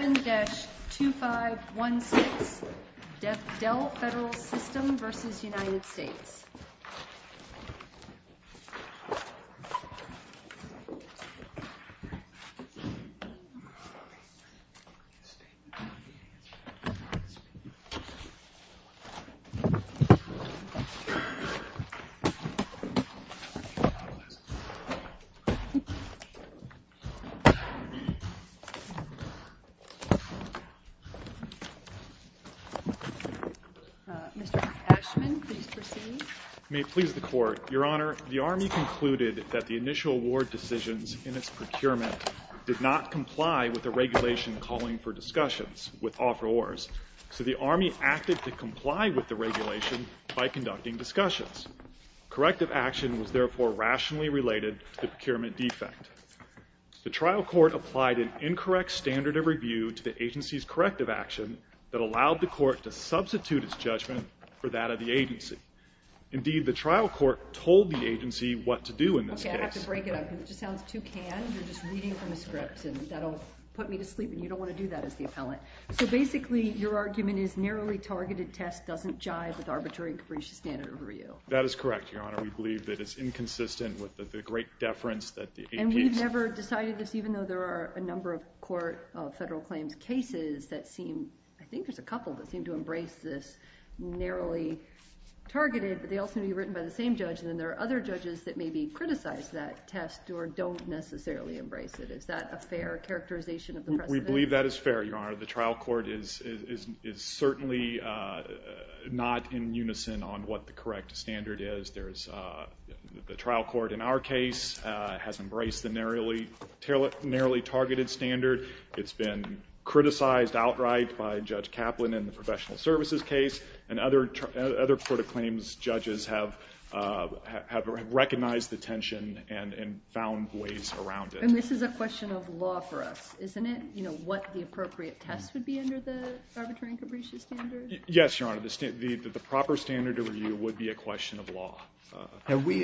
7-2516, Del Federal System versus United States. Mr. Ashman, please proceed. May it please the Court, Your Honor, the Army concluded that the initial award decisions in its procurement did not comply with the regulation calling for discussions with offerors, so the Army acted to comply with the regulation by conducting discussions. Corrective action was therefore rationally related to the procurement defect. The trial court applied an incorrect standard of review to the agency's corrective action that allowed the court to substitute its judgment for that of the agency. Indeed, the trial court told the agency what to do in this case. Okay, I have to break it up because it just sounds too canned. You're just reading from a script, and that'll put me to sleep, and you don't want to do that as the appellant. So basically, your argument is narrowly targeted test doesn't jive with arbitrary and capricious standard of review. That is correct, Your Honor. We believe that it's inconsistent with the great deference that the agency— And we've never decided this, even though there are a number of court federal claims cases that seem— I think there's a couple that seem to embrace this narrowly targeted, but they all seem to be written by the same judge, and then there are other judges that maybe criticize that test or don't necessarily embrace it. Is that a fair characterization of the precedent? We believe that is fair, Your Honor. The trial court is certainly not in unison on what the correct standard is. The trial court in our case has embraced the narrowly targeted standard. It's been criticized outright by Judge Kaplan in the professional services case, and other court of claims judges have recognized the tension and found ways around it. And this is a question of law for us, isn't it? You know, what the appropriate test would be under the arbitrary and capricious standard? Yes, Your Honor. The proper standard to review would be a question of law. Have we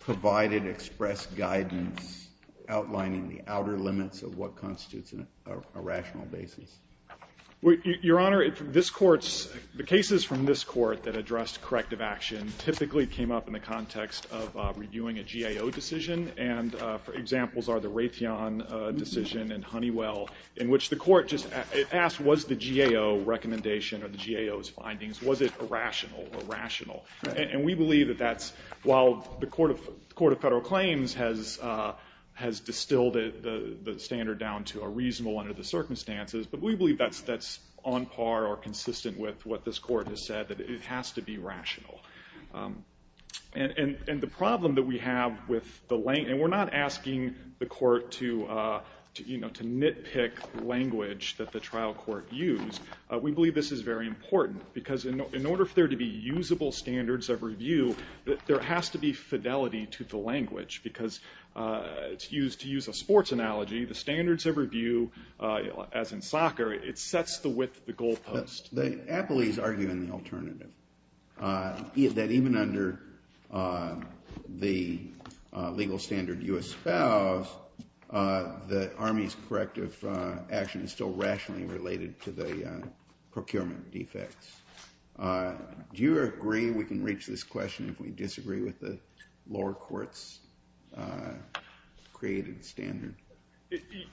provided express guidance outlining the outer limits of what constitutes a rational basis? Your Honor, the cases from this court that addressed corrective action typically came up in the context of reviewing a GAO decision, and examples are the Raytheon decision and Honeywell, in which the court just asked, was the GAO recommendation or the GAO's findings, was it irrational or rational? And we believe that that's, while the court of federal claims has distilled the standard down to a reasonable under the circumstances, but we believe that's on par or consistent with what this court has said, that it has to be rational. And the problem that we have with the language, and we're not asking the court to, you know, to nitpick language that the trial court used, we believe this is very important, because in order for there to be usable standards of review, there has to be fidelity to the language, because to use a sports analogy, the standards of review, as in soccer, it sets the width of the goalpost. The appellees argue in the alternative, that even under the legal standard U.S. spouse, the Army's corrective action is still rationally related to the procurement defects. Do you agree we can reach this question if we disagree with the lower court's created standard?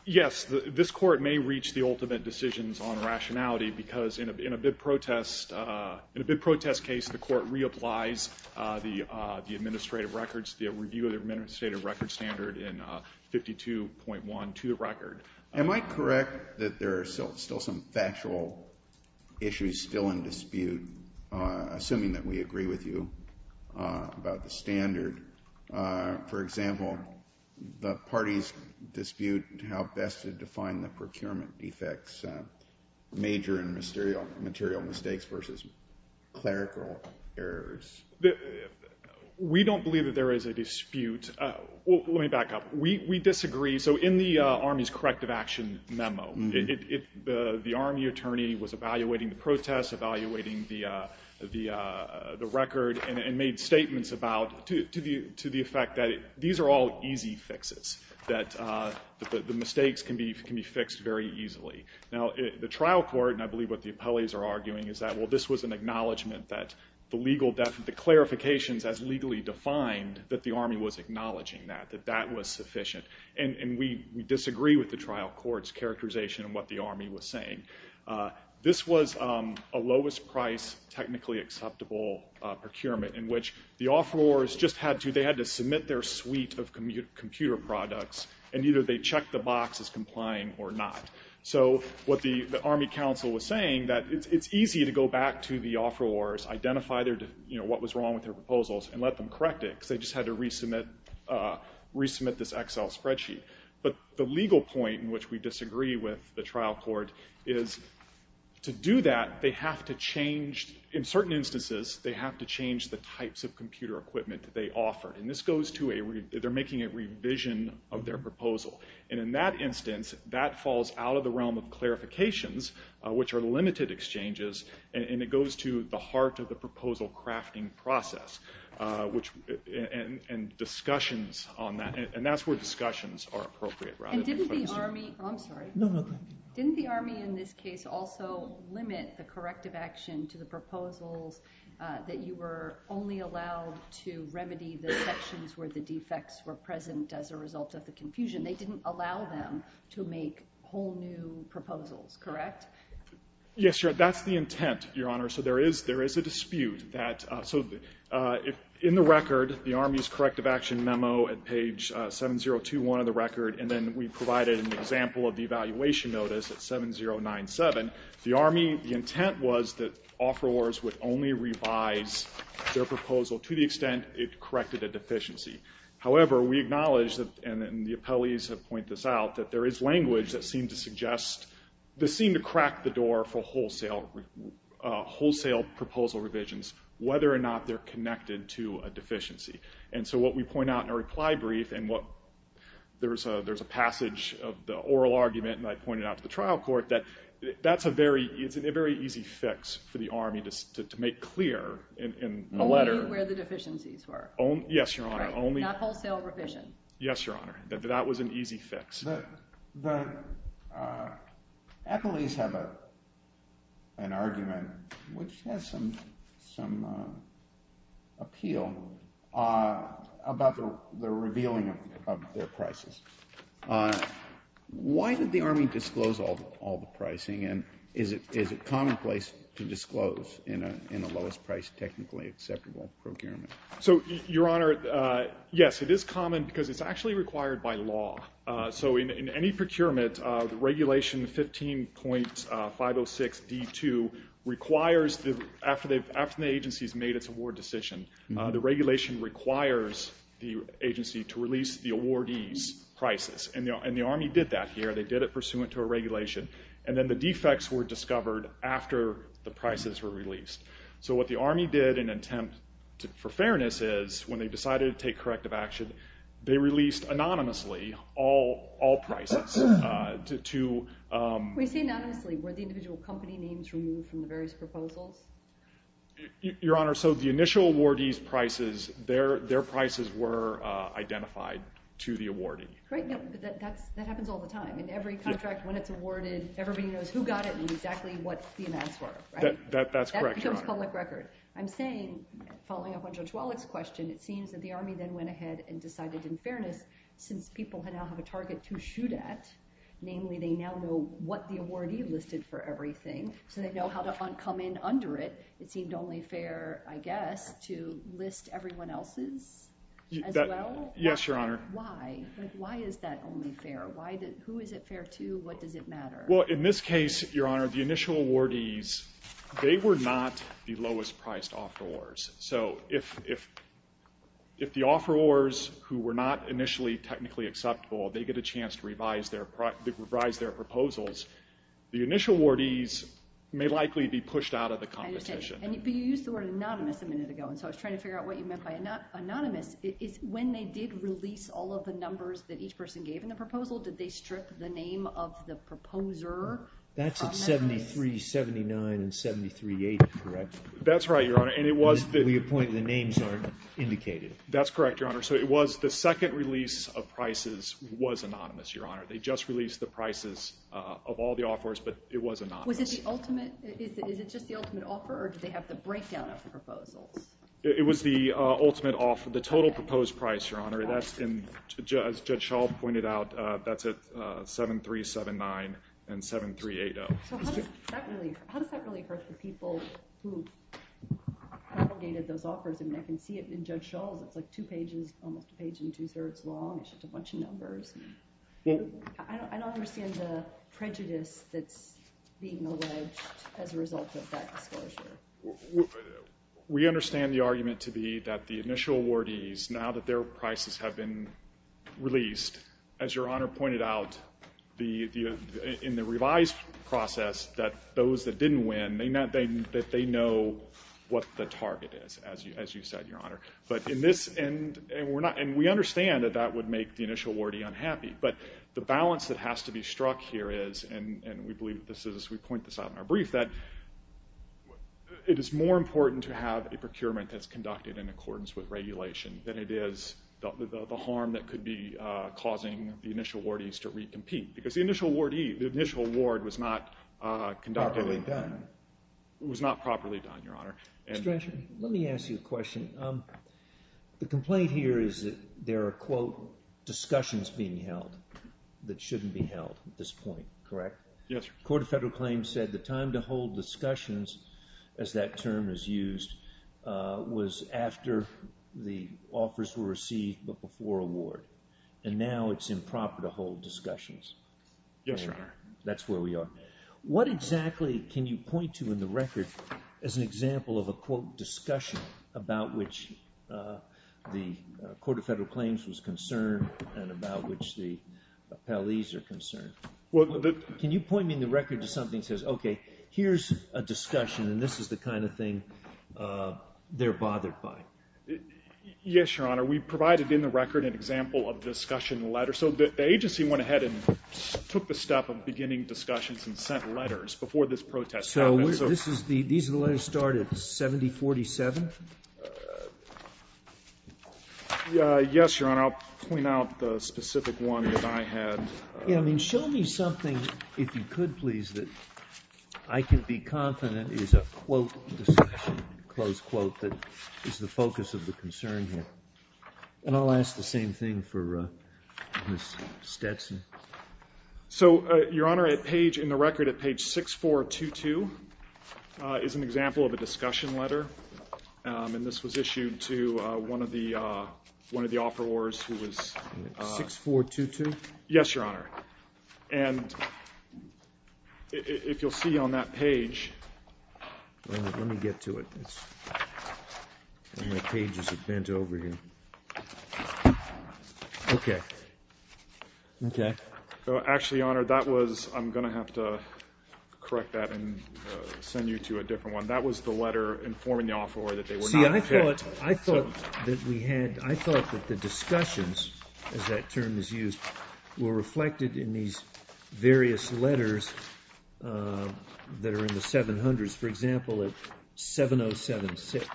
Yes, this court may reach the ultimate decisions on rationality, because in a bid protest case, the court reapplies the administrative records, the review of the administrative records standard in 52.1 to the record. Am I correct that there are still some factual issues still in dispute, assuming that we agree with you about the standard? For example, the parties dispute how best to define the procurement defects, major and material mistakes versus clerical errors. We don't believe that there is a dispute. Let me back up. We disagree. So in the Army's corrective action memo, the Army attorney was evaluating the protests, evaluating the record, and made statements to the effect that these are all easy fixes, that the mistakes can be fixed very easily. Now, the trial court, and I believe what the appellees are arguing, is that this was an acknowledgment that the clarifications as legally defined, that the Army was acknowledging that, that that was sufficient. And we disagree with the trial court's characterization of what the Army was saying. This was a lowest price, technically acceptable procurement, in which the offerors just had to submit their suite of computer products, and either they checked the box as complying or not. So what the Army counsel was saying, that it's easy to go back to the offerors, identify what was wrong with their proposals, and let them correct it, because they just had to resubmit this Excel spreadsheet. But the legal point in which we disagree with the trial court is to do that, they have to change, in certain instances, they have to change the types of computer equipment that they offer. And this goes to a, they're making a revision of their proposal. And in that instance, that falls out of the realm of clarifications, which are limited exchanges, and it goes to the heart of the proposal crafting process, and discussions on that, and that's where discussions are appropriate. And didn't the Army, I'm sorry. No, no, go ahead. Didn't the Army in this case also limit the corrective action to the proposals that you were only allowed to remedy the sections where the defects were present as a result of the confusion? They didn't allow them to make whole new proposals, correct? Yes, Your Honor, that's the intent, Your Honor. So there is a dispute. So in the record, the Army's corrective action memo at page 7021 of the record, and then we provided an example of the evaluation notice at 7097. The Army, the intent was that offerors would only revise their proposal to the extent it corrected a deficiency. However, we acknowledge, and the appellees have pointed this out, that there is language that seemed to crack the door for wholesale proposal revisions, whether or not they're connected to a deficiency. And so what we point out in our reply brief, and there's a passage of the oral argument that I pointed out to the trial court, that that's a very easy fix for the Army to make clear in the letter. Only where the deficiencies were. Yes, Your Honor. Not wholesale revision. Yes, Your Honor, that was an easy fix. The appellees have an argument which has some appeal about the revealing of their prices. Why did the Army disclose all the pricing, and is it commonplace to disclose in a lowest price technically acceptable procurement? So, Your Honor, yes, it is common because it's actually required by law. So in any procurement, regulation 15.506D2 requires, after the agency has made its award decision, the regulation requires the agency to release the awardee's prices. And the Army did that here. They did it pursuant to a regulation. And then the defects were discovered after the prices were released. So what the Army did in an attempt for fairness is, when they decided to take corrective action, they released anonymously all prices. When you say anonymously, were the individual company names removed from the various proposals? Your Honor, so the initial awardee's prices, their prices were identified to the awardee. That happens all the time. In every contract, when it's awarded, everybody knows who got it and exactly what the amounts were. That's correct, Your Honor. That becomes public record. I'm saying, following up on Judge Wallach's question, it seems that the Army then went ahead and decided in fairness, since people now have a target to shoot at, namely they now know what the awardee listed for everything, so they know how to come in under it. It seemed only fair, I guess, to list everyone else's as well? Yes, Your Honor. Why? Why is that only fair? Who is it fair to? What does it matter? Well, in this case, Your Honor, the initial awardees, they were not the lowest priced afterwards. So if the offerors, who were not initially technically acceptable, they get a chance to revise their proposals, the initial awardees may likely be pushed out of the competition. I understand. And you used the word anonymous a minute ago, and so I was trying to figure out what you meant by anonymous. When they did release all of the numbers that each person gave in the proposal, did they strip the name of the proposer? That's right, Your Honor. We appointed the names that are indicated. That's correct, Your Honor. So it was the second release of prices was anonymous, Your Honor. They just released the prices of all the offerors, but it was anonymous. Was it the ultimate? Is it just the ultimate offer, or did they have the breakdown of the proposals? It was the ultimate offer, the total proposed price, Your Honor. As Judge Schall pointed out, that's at 7379 and 7380. How does that really hurt the people who propagated those offers? I mean, I can see it in Judge Schall's. It's like two pages, almost a page and two-thirds long. It's just a bunch of numbers. I don't understand the prejudice that's being alleged as a result of that disclosure. We understand the argument to be that the initial awardees, now that their prices have been released, as Your Honor pointed out, in the revised process, that those that didn't win, that they know what the target is, as you said, Your Honor. And we understand that that would make the initial awardee unhappy, but the balance that has to be struck here is, and we believe this as we point this out in our brief, that it is more important to have a procurement that's conducted because the initial awardee, the initial award was not conducted. It was not properly done, Your Honor. Mr. Drescher, let me ask you a question. The complaint here is that there are, quote, discussions being held that shouldn't be held at this point, correct? Yes, sir. The Court of Federal Claims said the time to hold discussions, as that term is used, was after the offers were received but before award, and now it's improper to hold discussions. Yes, Your Honor. That's where we are. What exactly can you point to in the record as an example of a, quote, discussion about which the Court of Federal Claims was concerned and about which the appellees are concerned? Can you point me in the record to something that says, okay, here's a discussion and this is the kind of thing they're bothered by? Yes, Your Honor. We provided in the record an example of discussion letters. So the agency went ahead and took the step of beginning discussions and sent letters before this protest happened. So these are the letters that started 7047? Yes, Your Honor. I'll point out the specific one that I had. Yeah, I mean, show me something, if you could, please, that I can be confident is a, quote, discussion, close quote, that is the focus of the concern here. And I'll ask the same thing for Ms. Stetson. So, Your Honor, in the record at page 6422 is an example of a discussion letter, and this was issued to one of the offerors who was ---- 6422? Yes, Your Honor. And if you'll see on that page ---- Let me get to it. My pages have bent over here. Okay. Okay. Actually, Your Honor, that was ---- I'm going to have to correct that and send you to a different one. That was the letter informing the offeror that they were not ---- See, I thought that we had ---- I thought that the discussions, as that term is used, were reflected in these various letters that are in the 700s. For example, at 7076.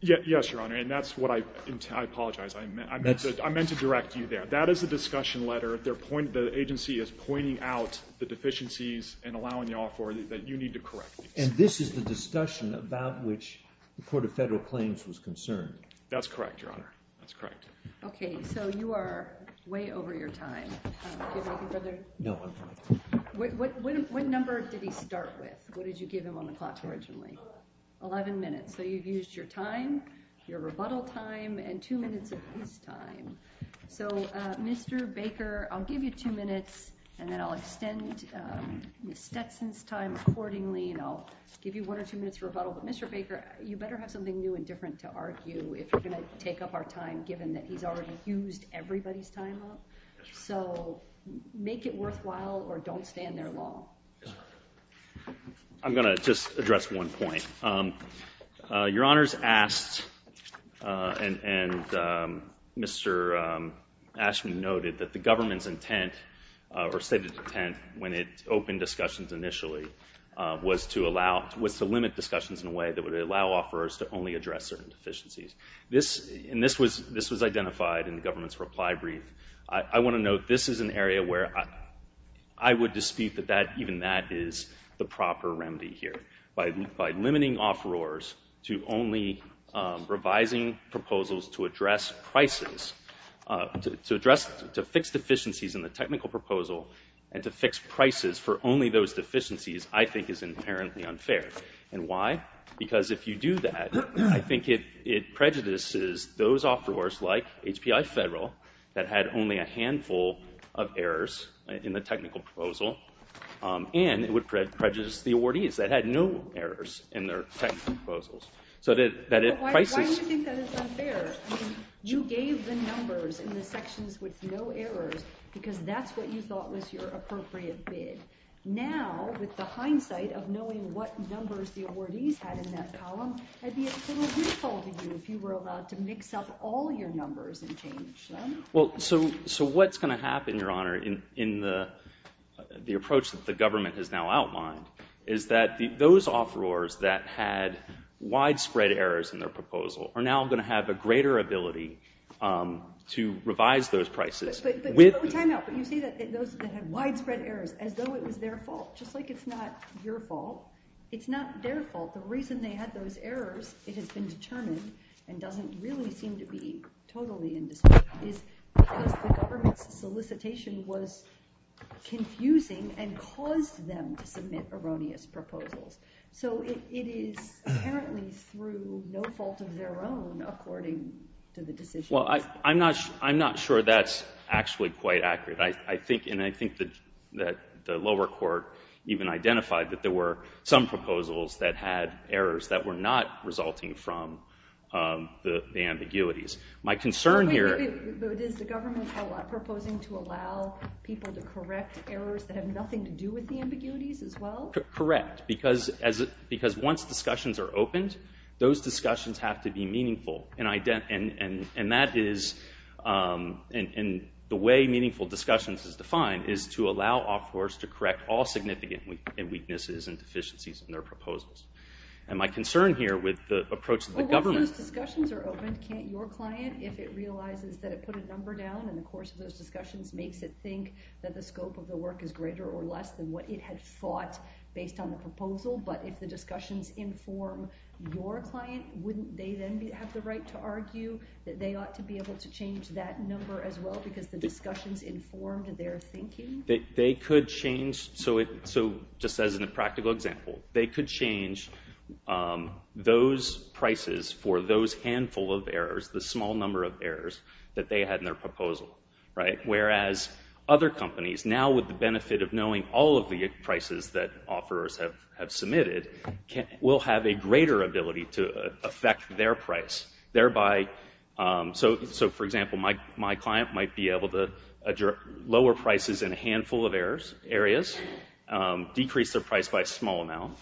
Yes, Your Honor, and that's what I ---- I apologize. I meant to direct you there. That is a discussion letter. The agency is pointing out the deficiencies and allowing the offeror that you need to correct these. And this is the discussion about which the Court of Federal Claims was concerned? That's correct, Your Honor. That's correct. Okay. So you are way over your time. Do you have anything further? No, I'm fine. What number did he start with? What did you give him on the clock originally? Eleven minutes. So you've used your time, your rebuttal time, and two minutes of his time. So, Mr. Baker, I'll give you two minutes, and then I'll extend Ms. Stetson's time accordingly, and I'll give you one or two minutes for rebuttal. But, Mr. Baker, you better have something new and different to argue if you're going to take up our time, given that he's already used everybody's time up. So make it worthwhile or don't stand there long. I'm going to just address one point. Your Honors asked and Mr. Ashman noted that the government's intent or stated intent when it opened discussions initially was to limit discussions in a way that would allow offerors to only address certain deficiencies. And this was identified in the government's reply brief. I want to note this is an area where I would dispute that even that is the proper remedy here. By limiting offerors to only revising proposals to address prices, to fix deficiencies in the technical proposal and to fix prices for only those deficiencies, I think is inherently unfair. And why? Because if you do that, I think it prejudices those offerors, like HPI Federal, that had only a handful of errors in the technical proposal, and it would prejudice the awardees that had no errors in their technical proposals. Why do you think that is unfair? You gave the numbers in the sections with no errors because that's what you thought was your appropriate bid. Now, with the hindsight of knowing what numbers the awardees had in that column, it would be a little useful to you if you were allowed to mix up all your numbers and change them. Well, so what's going to happen, Your Honor, in the approach that the government has now outlined, is that those offerors that had widespread errors in their proposal are now going to have a greater ability to revise those prices. But you see that those that had widespread errors, as though it was their fault. Just like it's not your fault, it's not their fault. The reason they had those errors, it has been determined, and doesn't really seem to be totally in dispute, is because the government's solicitation was confusing and caused them to submit erroneous proposals. So it is apparently through no fault of their own, according to the decision. Well, I'm not sure that's actually quite accurate. And I think that the lower court even identified that there were some proposals that had errors that were not resulting from the ambiguities. My concern here— Wait, but is the government proposing to allow people to correct errors that have nothing to do with the ambiguities as well? Correct. Because once discussions are opened, those discussions have to be meaningful. And that is—and the way meaningful discussions is defined is to allow offerors to correct all significant weaknesses and deficiencies in their proposals. And my concern here with the approach of the government— Well, once those discussions are opened, can't your client, if it realizes that it put a number down in the course of those discussions, makes it think that the scope of the work is greater or less than what it had fought based on the proposal? But if the discussions inform your client, wouldn't they then have the right to argue that they ought to be able to change that number as well, because the discussions informed their thinking? They could change—so just as a practical example, they could change those prices for those handful of errors, the small number of errors that they had in their proposal. Whereas other companies, now with the benefit of knowing all of the prices that offerors have submitted, will have a greater ability to affect their price. Thereby—so, for example, my client might be able to lower prices in a handful of areas, decrease their price by a small amount.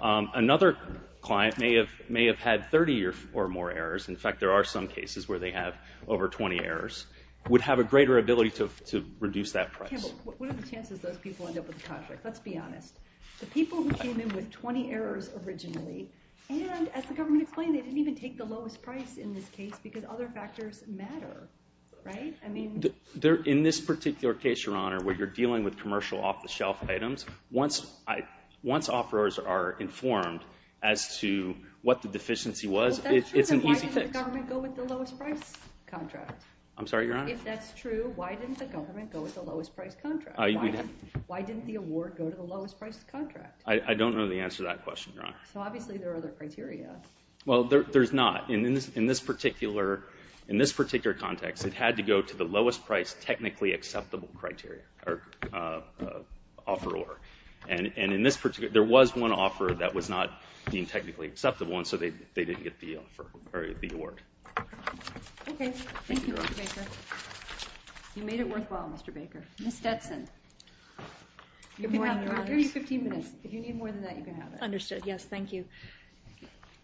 Another client may have had 30 or more errors. In fact, there are some cases where they have over 20 errors, would have a greater ability to reduce that price. Okay, but what are the chances those people end up with the contract? Let's be honest. The people who came in with 20 errors originally, and as the government explained, they didn't even take the lowest price in this case because other factors matter, right? In this particular case, Your Honor, where you're dealing with commercial off-the-shelf items, once offerors are informed as to what the deficiency was, it's an easy fix. If that's true, then why didn't the government go with the lowest price contract? I'm sorry, Your Honor? If that's true, why didn't the government go with the lowest price contract? Why didn't the award go to the lowest price contract? I don't know the answer to that question, Your Honor. So obviously there are other criteria. Well, there's not. In this particular context, it had to go to the lowest price technically acceptable criteria, or offeror. And in this particular—there was one offeror that was not being technically acceptable, and so they didn't get the award. Okay. Thank you, Mr. Baker. You made it worthwhile, Mr. Baker. Ms. Stetson. Good morning, Your Honor. We'll give you 15 minutes. If you need more than that, you can have it. Understood. Yes, thank you.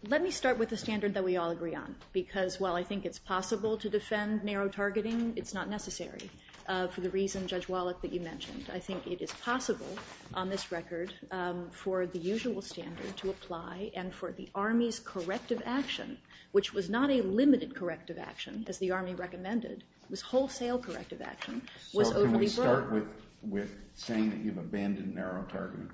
Let me start with the standard that we all agree on because while I think it's possible to defend narrow targeting, it's not necessary for the reason, Judge Wallach, that you mentioned. I think it is possible on this record for the usual standard to apply and for the Army's corrective action, which was not a limited corrective action, as the Army recommended, was wholesale corrective action, was overly broad. So can we start with saying that you've abandoned narrow targeting?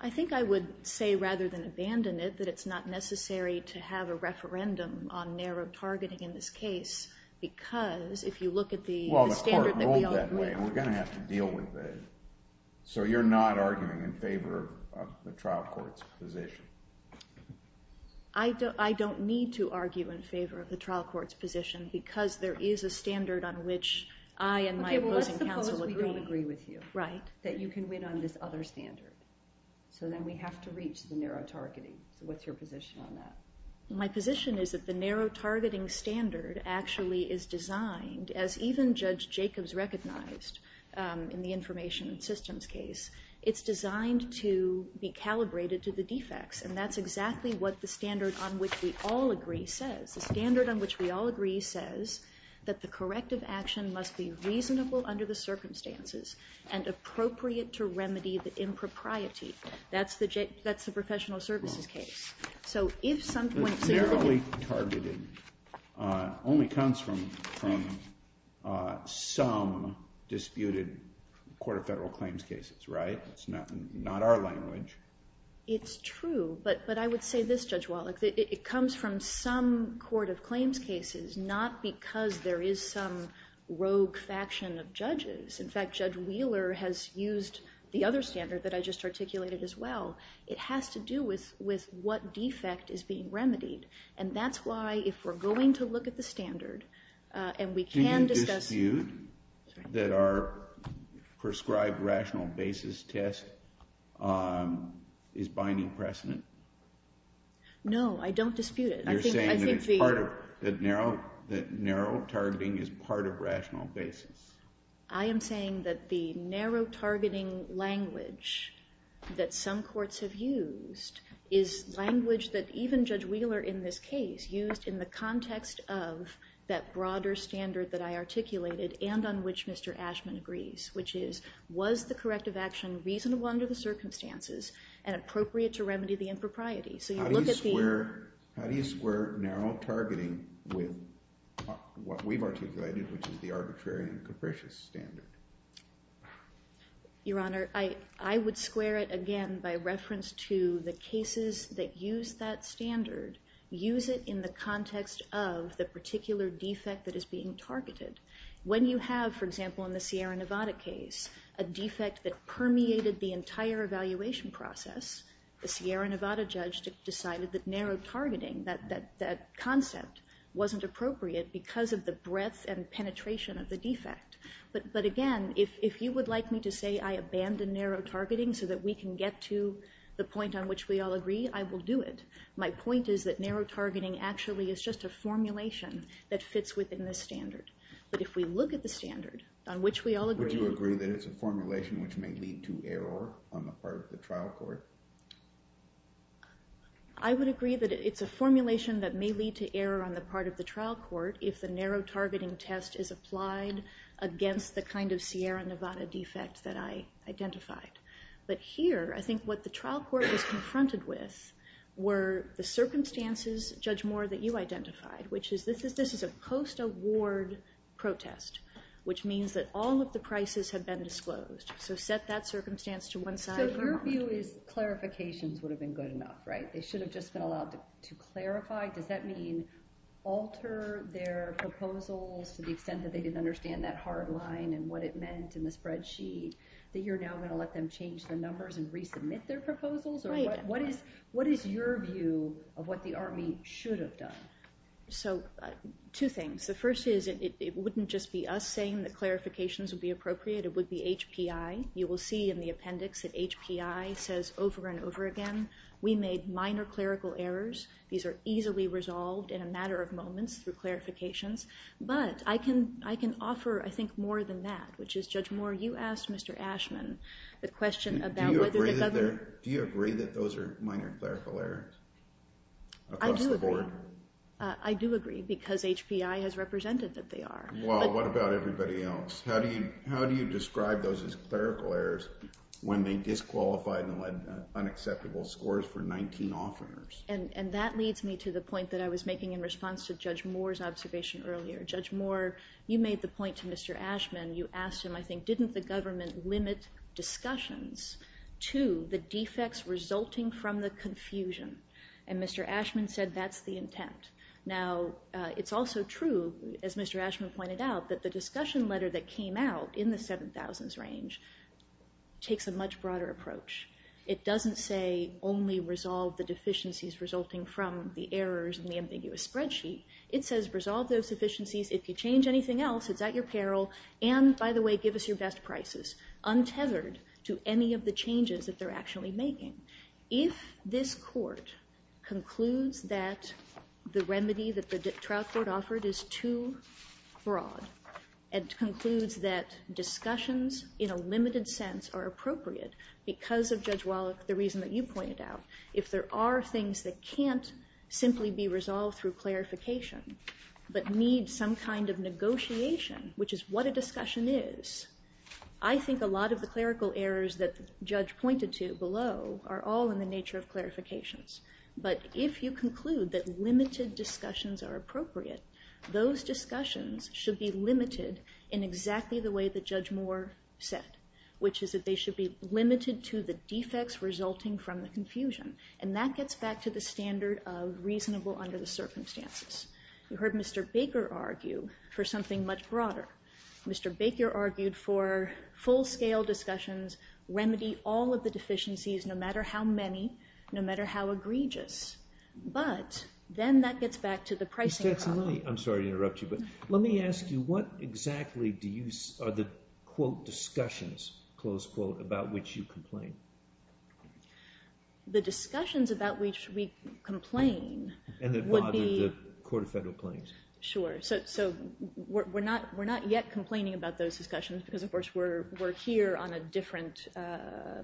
I think I would say rather than abandon it, that it's not necessary to have a referendum on narrow targeting in this case because if you look at the standard that we all agree on— Well, the Court ruled that way, and we're going to have to deal with it. So you're not arguing in favor of the trial court's position? I don't need to argue in favor of the trial court's position because there is a standard on which I and my opposing counsel agree. Okay, well, let's suppose we don't agree with you. Right. That you can win on this other standard. So then we have to reach the narrow targeting. So what's your position on that? My position is that the narrow targeting standard actually is designed, as even Judge Jacobs recognized in the information systems case, it's designed to be calibrated to the defects, and that's exactly what the standard on which we all agree says. The standard on which we all agree says that the corrective action must be reasonable under the circumstances and appropriate to remedy the impropriety. That's the professional services case. So if some point— Narrowly targeted only comes from some disputed Court of Federal Claims cases, right? That's not our language. It's true, but I would say this, Judge Wallach, that it comes from some Court of Claims cases, not because there is some rogue faction of judges. In fact, Judge Wheeler has used the other standard that I just articulated as well. It has to do with what defect is being remedied, and that's why if we're going to look at the standard and we can discuss— Can you dispute that our prescribed rational basis test is binding precedent? No, I don't dispute it. You're saying that narrow targeting is part of rational basis. I am saying that the narrow targeting language that some courts have used is language that even Judge Wheeler in this case used in the context of that broader standard that I articulated and on which Mr. Ashman agrees, which is was the corrective action reasonable under the circumstances and appropriate to remedy the impropriety? So you look at the— How do you square narrow targeting with what we've articulated, which is the arbitrary and capricious standard? Your Honor, I would square it again by reference to the cases that use that standard, use it in the context of the particular defect that is being targeted. When you have, for example, in the Sierra Nevada case, a defect that permeated the entire evaluation process, the Sierra Nevada judge decided that narrow targeting, that concept wasn't appropriate because of the breadth and penetration of the defect. But again, if you would like me to say I abandon narrow targeting so that we can get to the point on which we all agree, I will do it. My point is that narrow targeting actually is just a formulation that fits within this standard. But if we look at the standard on which we all agree— Would you agree that it's a formulation which may lead to error on the part of the trial court? I would agree that it's a formulation that may lead to error on the part of the trial court if the narrow targeting test is applied against the kind of Sierra Nevada defect that I identified. But here, I think what the trial court was confronted with were the circumstances, Judge Moore, that you identified, which is this is a post-award protest, which means that all of the prices have been disclosed. So set that circumstance to one side. So your view is clarifications would have been good enough, right? They should have just been allowed to clarify. Does that mean alter their proposals to the extent that they didn't understand that hard line and what it meant in the spreadsheet, that you're now going to let them change their numbers and resubmit their proposals? Right. What is your view of what the Army should have done? So two things. The first is it wouldn't just be us saying that clarifications would be appropriate. It would be HPI. You will see in the appendix that HPI says over and over again, we made minor clerical errors. These are easily resolved in a matter of moments through clarifications. But I can offer, I think, more than that, which is, Judge Moore, you asked Mr. Ashman the question about whether the government Do you agree that those are minor clerical errors across the board? I do agree because HPI has represented that they are. Well, what about everybody else? How do you describe those as clerical errors when they disqualified and led unacceptable scores for 19 offerers? And that leads me to the point that I was making in response to Judge Moore's observation earlier. Judge Moore, you made the point to Mr. Ashman, you asked him, I think, didn't the government limit discussions to the defects resulting from the confusion? And Mr. Ashman said that's the intent. Now, it's also true, as Mr. Ashman pointed out, that the discussion letter that came out in the 7,000s range takes a much broader approach. It doesn't say only resolve the deficiencies resulting from the errors in the ambiguous spreadsheet. It says resolve those deficiencies. If you change anything else, it's at your peril. And, by the way, give us your best prices, untethered to any of the changes that they're actually making. If this court concludes that the remedy that the Trout Court offered is too broad and concludes that discussions in a limited sense are appropriate because of Judge Wallach, the reason that you pointed out, if there are things that can't simply be resolved through clarification but need some kind of negotiation, which is what a discussion is, I think a lot of the clerical errors that the judge pointed to below are all in the nature of clarifications. But if you conclude that limited discussions are appropriate, those discussions should be limited in exactly the way that Judge Moore said, which is that they should be limited to the defects resulting from the confusion. And that gets back to the standard of reasonable under the circumstances. You heard Mr. Baker argue for something much broader. Mr. Baker argued for full-scale discussions, remedy all of the deficiencies, no matter how many, no matter how egregious. But then that gets back to the pricing problem. I'm sorry to interrupt you, but let me ask you, what exactly are the, quote, discussions, close quote, about which you complain? The discussions about which we complain would be... And that bother the Court of Federal Claims. Sure. So we're not yet complaining about those discussions because, of course, we're here on a different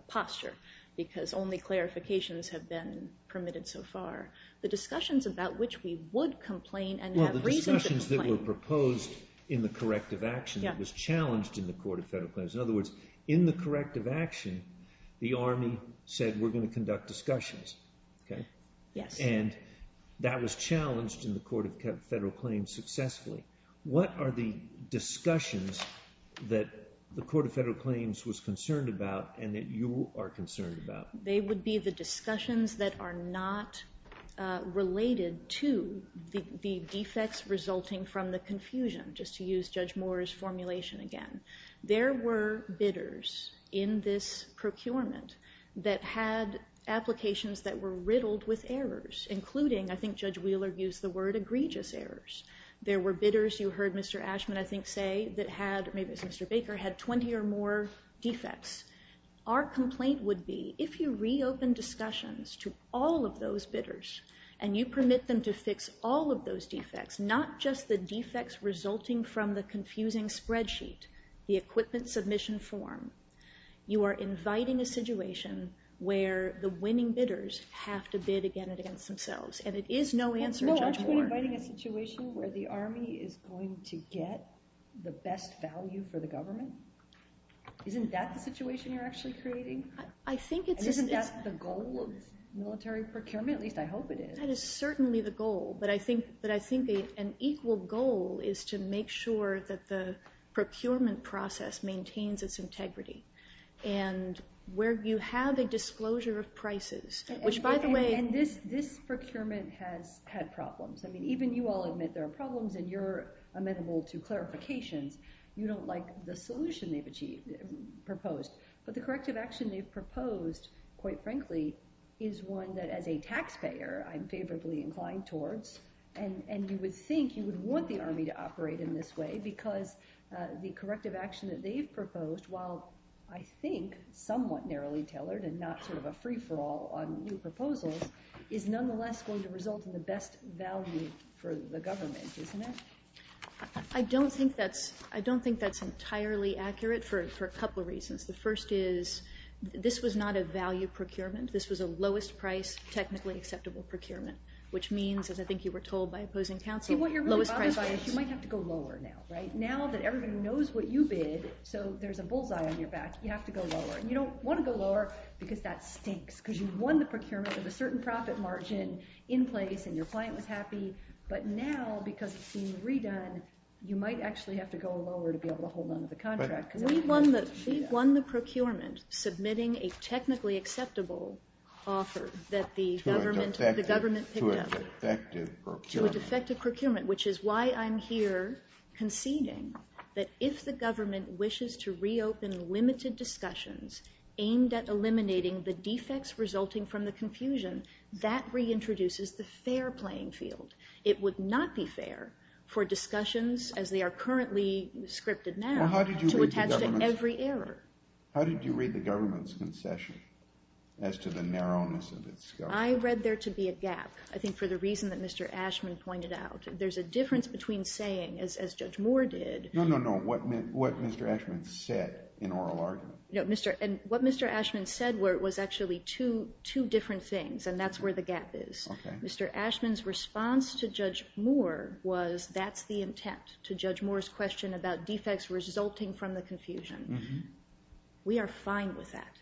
posture because only clarifications have been permitted so far. The discussions about which we would complain and have reason to complain. Well, the discussions that were proposed in the corrective action that was challenged in the Court of Federal Claims. In other words, in the corrective action, the Army said we're going to conduct discussions. Okay? Yes. And that was challenged in the Court of Federal Claims successfully. What are the discussions that the Court of Federal Claims was concerned about and that you are concerned about? They would be the discussions that are not related to the defects resulting from the confusion, just to use Judge Moore's formulation again. There were bidders in this procurement that had applications that were riddled with errors, including, I think Judge Wheeler used the word, egregious errors. There were bidders, you heard Mr. Ashman, I think, say, that had, maybe it was Mr. Baker, had 20 or more defects. Our complaint would be, if you reopen discussions to all of those bidders and you permit them to fix all of those defects, not just the defects resulting from the confusing spreadsheet, the equipment submission form, you are inviting a situation where the winning bidders have to bid again against themselves. And it is no answer, Judge Moore. Well, no, aren't we inviting a situation where the Army is going to get the best value for the government? Isn't that the situation you're actually creating? I think it's... And isn't that the goal of military procurement? At least I hope it is. That is certainly the goal. But I think an equal goal is to make sure that the procurement process maintains its integrity. And where you have a disclosure of prices, which by the way... And this procurement has had problems. I mean, even you all admit there are problems, and you're amenable to clarifications. You don't like the solution they've proposed. But the corrective action they've proposed, quite frankly, is one that as a taxpayer I'm favorably inclined towards, and you would think you would want the Army to operate in this way because the corrective action that they've proposed, while I think somewhat narrowly tailored and not sort of a free-for-all on new proposals, is nonetheless going to result in the best value for the government, isn't it? I don't think that's entirely accurate for a couple of reasons. The first is this was not a value procurement. This was a lowest-price, technically acceptable procurement, which means, as I think you were told by opposing counsel, lowest price... See, what you're really bothered by is you might have to go lower now, right? Now that everybody knows what you bid, so there's a bullseye on your back, you have to go lower. And you don't want to go lower because that stinks, because you won the procurement with a certain profit margin in place and your client was happy. But now, because it's being redone, you might actually have to go lower to be able to hold on to the contract. We won the procurement submitting a technically acceptable offer that the government picked up. To a defective procurement. To a defective procurement, which is why I'm here conceding that if the government wishes to reopen limited discussions aimed at eliminating the defects resulting from the confusion, that reintroduces the fair playing field. It would not be fair for discussions, as they are currently scripted now... Well, how did you read the government's... ...to attach to every error? How did you read the government's concession as to the narrowness of its scope? I read there to be a gap. I think for the reason that Mr. Ashman pointed out. There's a difference between saying, as Judge Moore did... No, no, no, what Mr. Ashman said in oral argument. What Mr. Ashman said was actually two different things, and that's where the gap is. Okay. Mr. Ashman's response to Judge Moore was, that's the intent, to Judge Moore's question about defects resulting from the confusion. We are fine with that.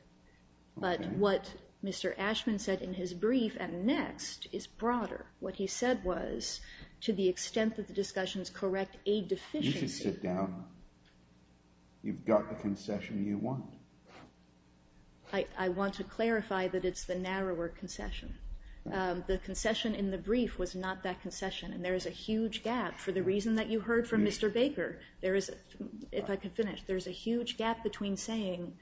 But what Mr. Ashman said in his brief, and next, is broader. What he said was, to the extent that the discussions correct a deficiency... You should sit down. You've got the concession you want. I want to clarify that it's the narrower concession. The concession in the brief was not that concession, and there is a huge gap, for the reason that you heard from Mr. Baker. If I could finish, there is a huge gap between saying,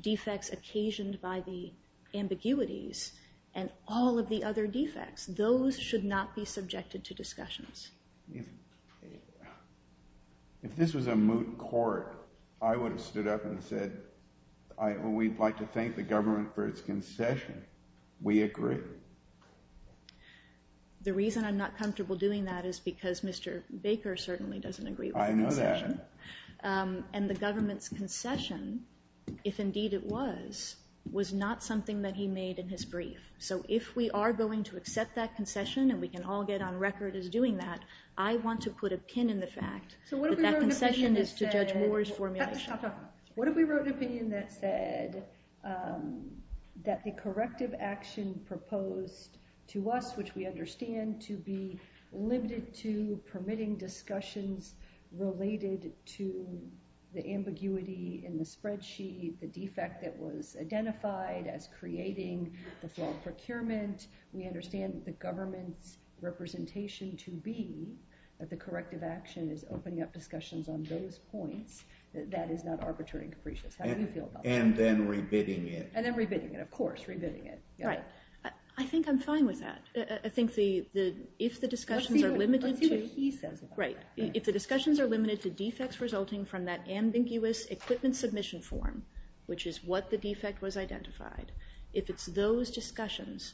defects occasioned by the ambiguities, and all of the other defects. Those should not be subjected to discussions. If this was a moot court, I would have stood up and said, we'd like to thank the government for its concession. We agree. The reason I'm not comfortable doing that, is because Mr. Baker certainly doesn't agree with the concession. I know that. And the government's concession, if indeed it was, was not something that he made in his brief. So if we are going to accept that concession, and we can all get on record as doing that, I want to put a pin in the fact that that concession is to Judge Moore's formulation. What if we wrote an opinion that said that the corrective action proposed to us, which we understand to be limited to permitting discussions related to the ambiguity in the spreadsheet, the defect that was identified as creating the fraud procurement. We understand the government's representation to be that the corrective action is opening up discussions on those points. That is not arbitrary and capricious. How do you feel about that? And then re-bidding it. And then re-bidding it, of course, re-bidding it. Right. I think I'm fine with that. I think if the discussions are limited to... Let's see what he says about that. Right. If the discussions are limited to defects resulting from that ambiguous equipment submission form, which is what the defect was identified, if it's those discussions,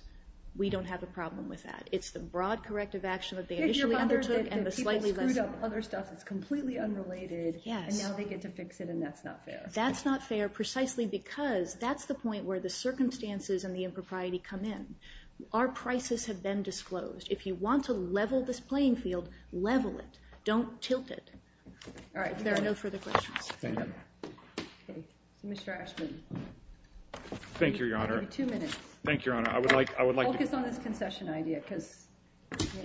we don't have a problem with that. It's the broad corrective action that they initially undertook, and the slightly less... If you're bothered that people screwed up other stuff that's completely unrelated, and now they get to fix it, and that's not fair. That's not fair precisely because that's the point where the circumstances and the impropriety come in. Our prices have been disclosed. If you want to level this playing field, level it. Don't tilt it. All right. If there are no further questions. Thank you. Okay. Mr. Ashman. Thank you, Your Honor. You have two minutes. Thank you, Your Honor. I would like to... Focus on this concession idea because...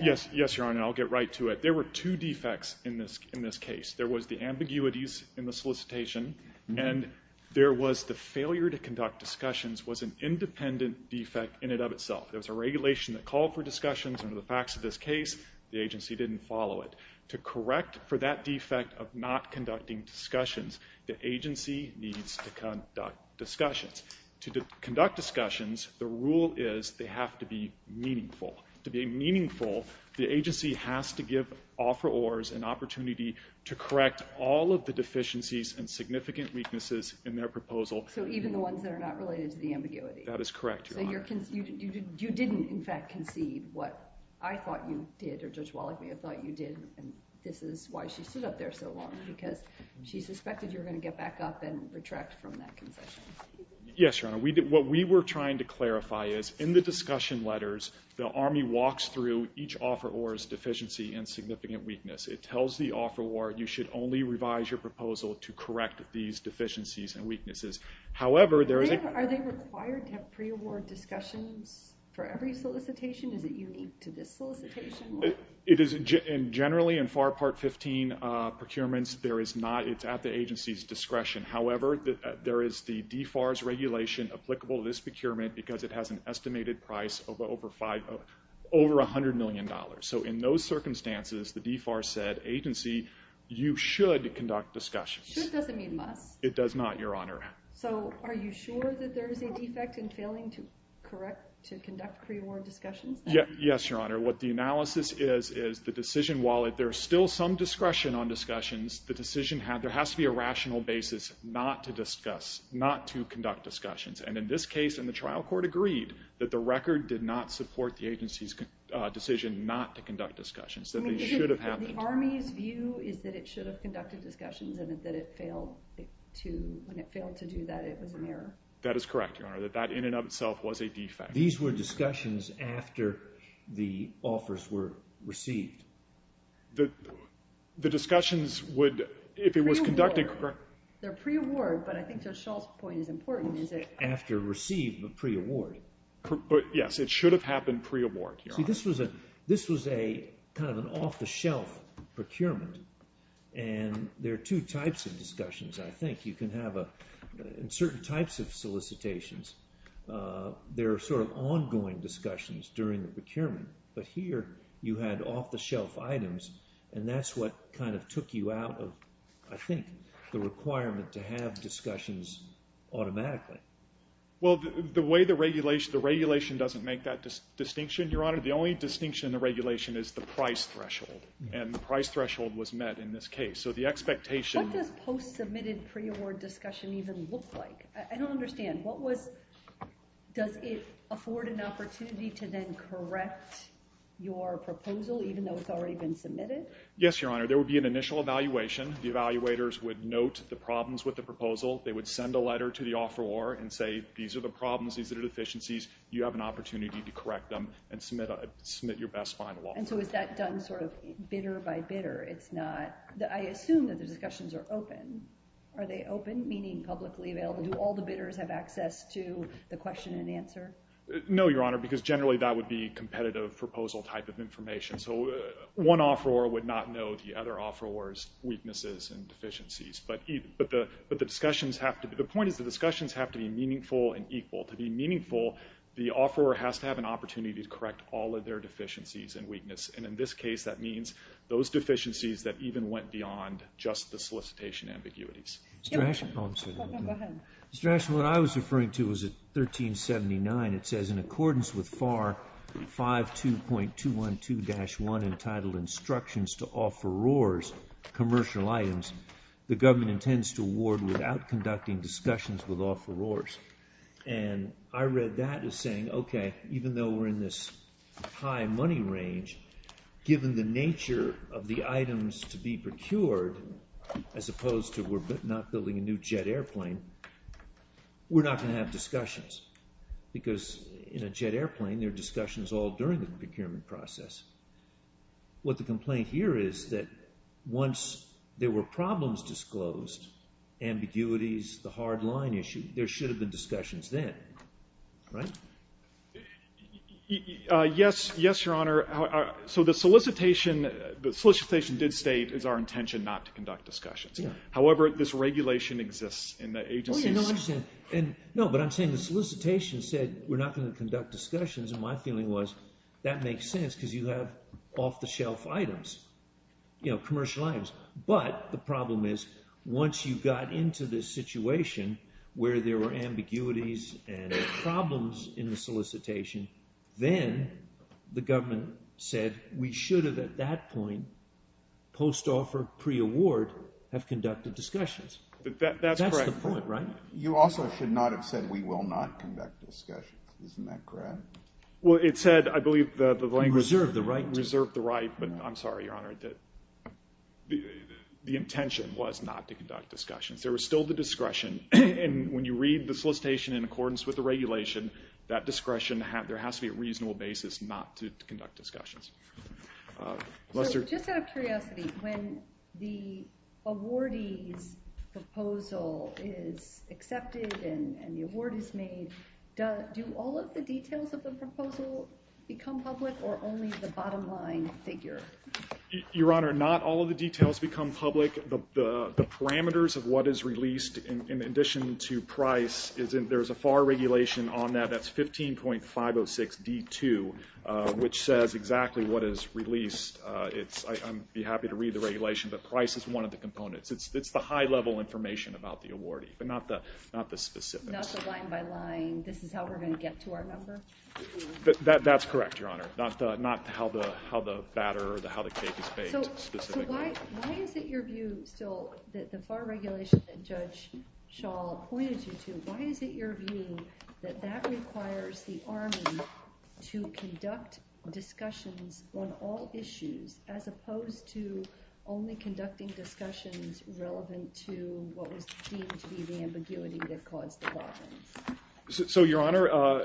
Yes, Your Honor. I'll get right to it. There were two defects in this case. There was the ambiguities in the solicitation, and there was the failure to conduct discussions was an independent defect in and of itself. There was a regulation that called for discussions. Under the facts of this case, the agency didn't follow it. To correct for that defect of not conducting discussions, the agency needs to conduct discussions. To conduct discussions, the rule is they have to be meaningful. To be meaningful, the agency has to give offerors an opportunity to correct all of the deficiencies and significant weaknesses in their proposal. So even the ones that are not related to the ambiguity. That is correct, Your Honor. So you didn't, in fact, concede what I thought you did, or Judge Wallach may have thought you did, and this is why she stood up there so long, because she suspected you were going to get back up and retract from that concession. Yes, Your Honor. What we were trying to clarify is in the discussion letters, the Army walks through each offeror's deficiency and significant weakness. It tells the offeror you should only revise your proposal to correct these deficiencies and weaknesses. Are they required to have pre-award discussions for every solicitation? Is it unique to this solicitation? Generally, in FAR Part 15 procurements, it's at the agency's discretion. However, there is the DFAR's regulation applicable to this procurement because it has an estimated price of over $100 million. So in those circumstances, the DFAR said, agency, you should conduct discussions. Should doesn't mean must. It does not, Your Honor. So are you sure that there is a defect in failing to conduct pre-award discussions? Yes, Your Honor. What the analysis is is the decision, while there is still some discretion on discussions, the decision has to be a rational basis not to discuss, not to conduct discussions. And in this case, and the trial court agreed, that the record did not support the agency's decision not to conduct discussions, that they should have happened. The Army's view is that it should have conducted discussions and that when it failed to do that, it was an error. That is correct, Your Honor, that that in and of itself was a defect. These were discussions after the offers were received. The discussions would, if it was conducted correctly. They're pre-award, but I think Judge Schall's point is important, is that after received, but pre-award. Yes, it should have happened pre-award, Your Honor. See, this was a kind of an off-the-shelf procurement, and there are two types of discussions, I think. You can have certain types of solicitations. There are sort of ongoing discussions during the procurement, but here you had off-the-shelf items, and that's what kind of took you out of, I think, the requirement to have discussions automatically. Well, the way the regulation doesn't make that distinction, Your Honor, the only distinction in the regulation is the price threshold, and the price threshold was met in this case, so the expectation... What does post-submitted pre-award discussion even look like? I don't understand. Does it afford an opportunity to then correct your proposal, even though it's already been submitted? Yes, Your Honor, there would be an initial evaluation. The evaluators would note the problems with the proposal. They would send a letter to the offeror and say, these are the problems, these are the deficiencies. You have an opportunity to correct them and submit your best final offer. And so is that done sort of bidder by bidder? I assume that the discussions are open. Are they open, meaning publicly available? Do all the bidders have access to the question and answer? No, Your Honor, because generally that would be competitive proposal type of information, so one offeror would not know the other offeror's weaknesses and deficiencies. But the point is the discussions have to be meaningful and equal. To be meaningful, the offeror has to have an opportunity to correct all of their deficiencies and weakness, and in this case that means those deficiencies that even went beyond just the solicitation ambiguities. Mr. Ashen, what I was referring to was 1379. It says, in accordance with FAR 52.212-1 entitled Instructions to Offerors Commercial Items, the government intends to award without conducting discussions with offerors. And I read that as saying, okay, even though we're in this high money range, given the nature of the items to be procured, as opposed to we're not building a new jet airplane, we're not going to have discussions, because in a jet airplane there are discussions all during the procurement process. What the complaint here is that once there were problems disclosed, ambiguities, the hard line issue, there should have been discussions then, right? Yes, Your Honor. So the solicitation did state it's our intention not to conduct discussions. However, this regulation exists in the agencies. No, but I'm saying the solicitation said we're not going to conduct discussions, and my feeling was that makes sense because you have off-the-shelf items, you know, commercial items. But the problem is once you got into this situation where there were ambiguities and problems in the solicitation, then the government said we should have at that point, post-offer, pre-award, have conducted discussions. That's correct. That's the point, right? You also should not have said we will not conduct discussions. Isn't that correct? Well, it said, I believe, the language. Reserved the right to. Reserved the right, but I'm sorry, Your Honor, the intention was not to conduct discussions. There was still the discretion, and when you read the solicitation in accordance with the regulation, that discretion, there has to be a reasonable basis not to conduct discussions. Just out of curiosity, when the awardee's proposal is accepted and the award is made, do all of the details of the proposal become public or only the bottom line figure? Your Honor, not all of the details become public. The parameters of what is released in addition to price, there's a FAR regulation on that, that's 15.506D2, which says exactly what is released. I'd be happy to read the regulation, but price is one of the components. It's the high-level information about the awardee, but not the specifics. Not the line-by-line, this is how we're going to get to our number? That's correct, Your Honor. Not how the batter or how the cake is baked specifically. So why is it your view still that the FAR regulation that Judge Schall pointed you to, why is it your view that that requires the Army to conduct discussions on all issues as opposed to only conducting discussions relevant to what was deemed to be the ambiguity that caused the problems? So, Your Honor,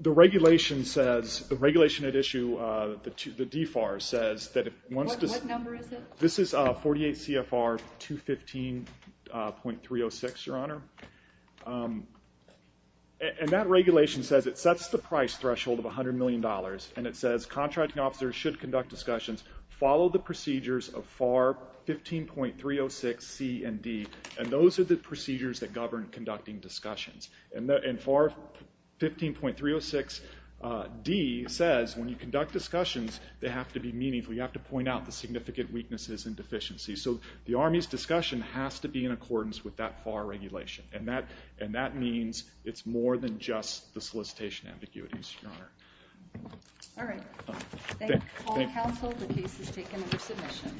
the regulation says, the regulation at issue, the DFAR, says that it wants to... What number is it? This is 48 CFR 215.306, Your Honor. And that regulation says it sets the price threshold of $100 million, and it says contracting officers should conduct discussions, follow the procedures of FAR 15.306C and D, and those are the procedures that govern conducting discussions. And FAR 15.306D says when you conduct discussions, they have to be meaningful. We have to point out the significant weaknesses and deficiencies. So the Army's discussion has to be in accordance with that FAR regulation, and that means it's more than just the solicitation ambiguities, Your Honor. All right. Thank you. Thank you, counsel. The case is taken under submission.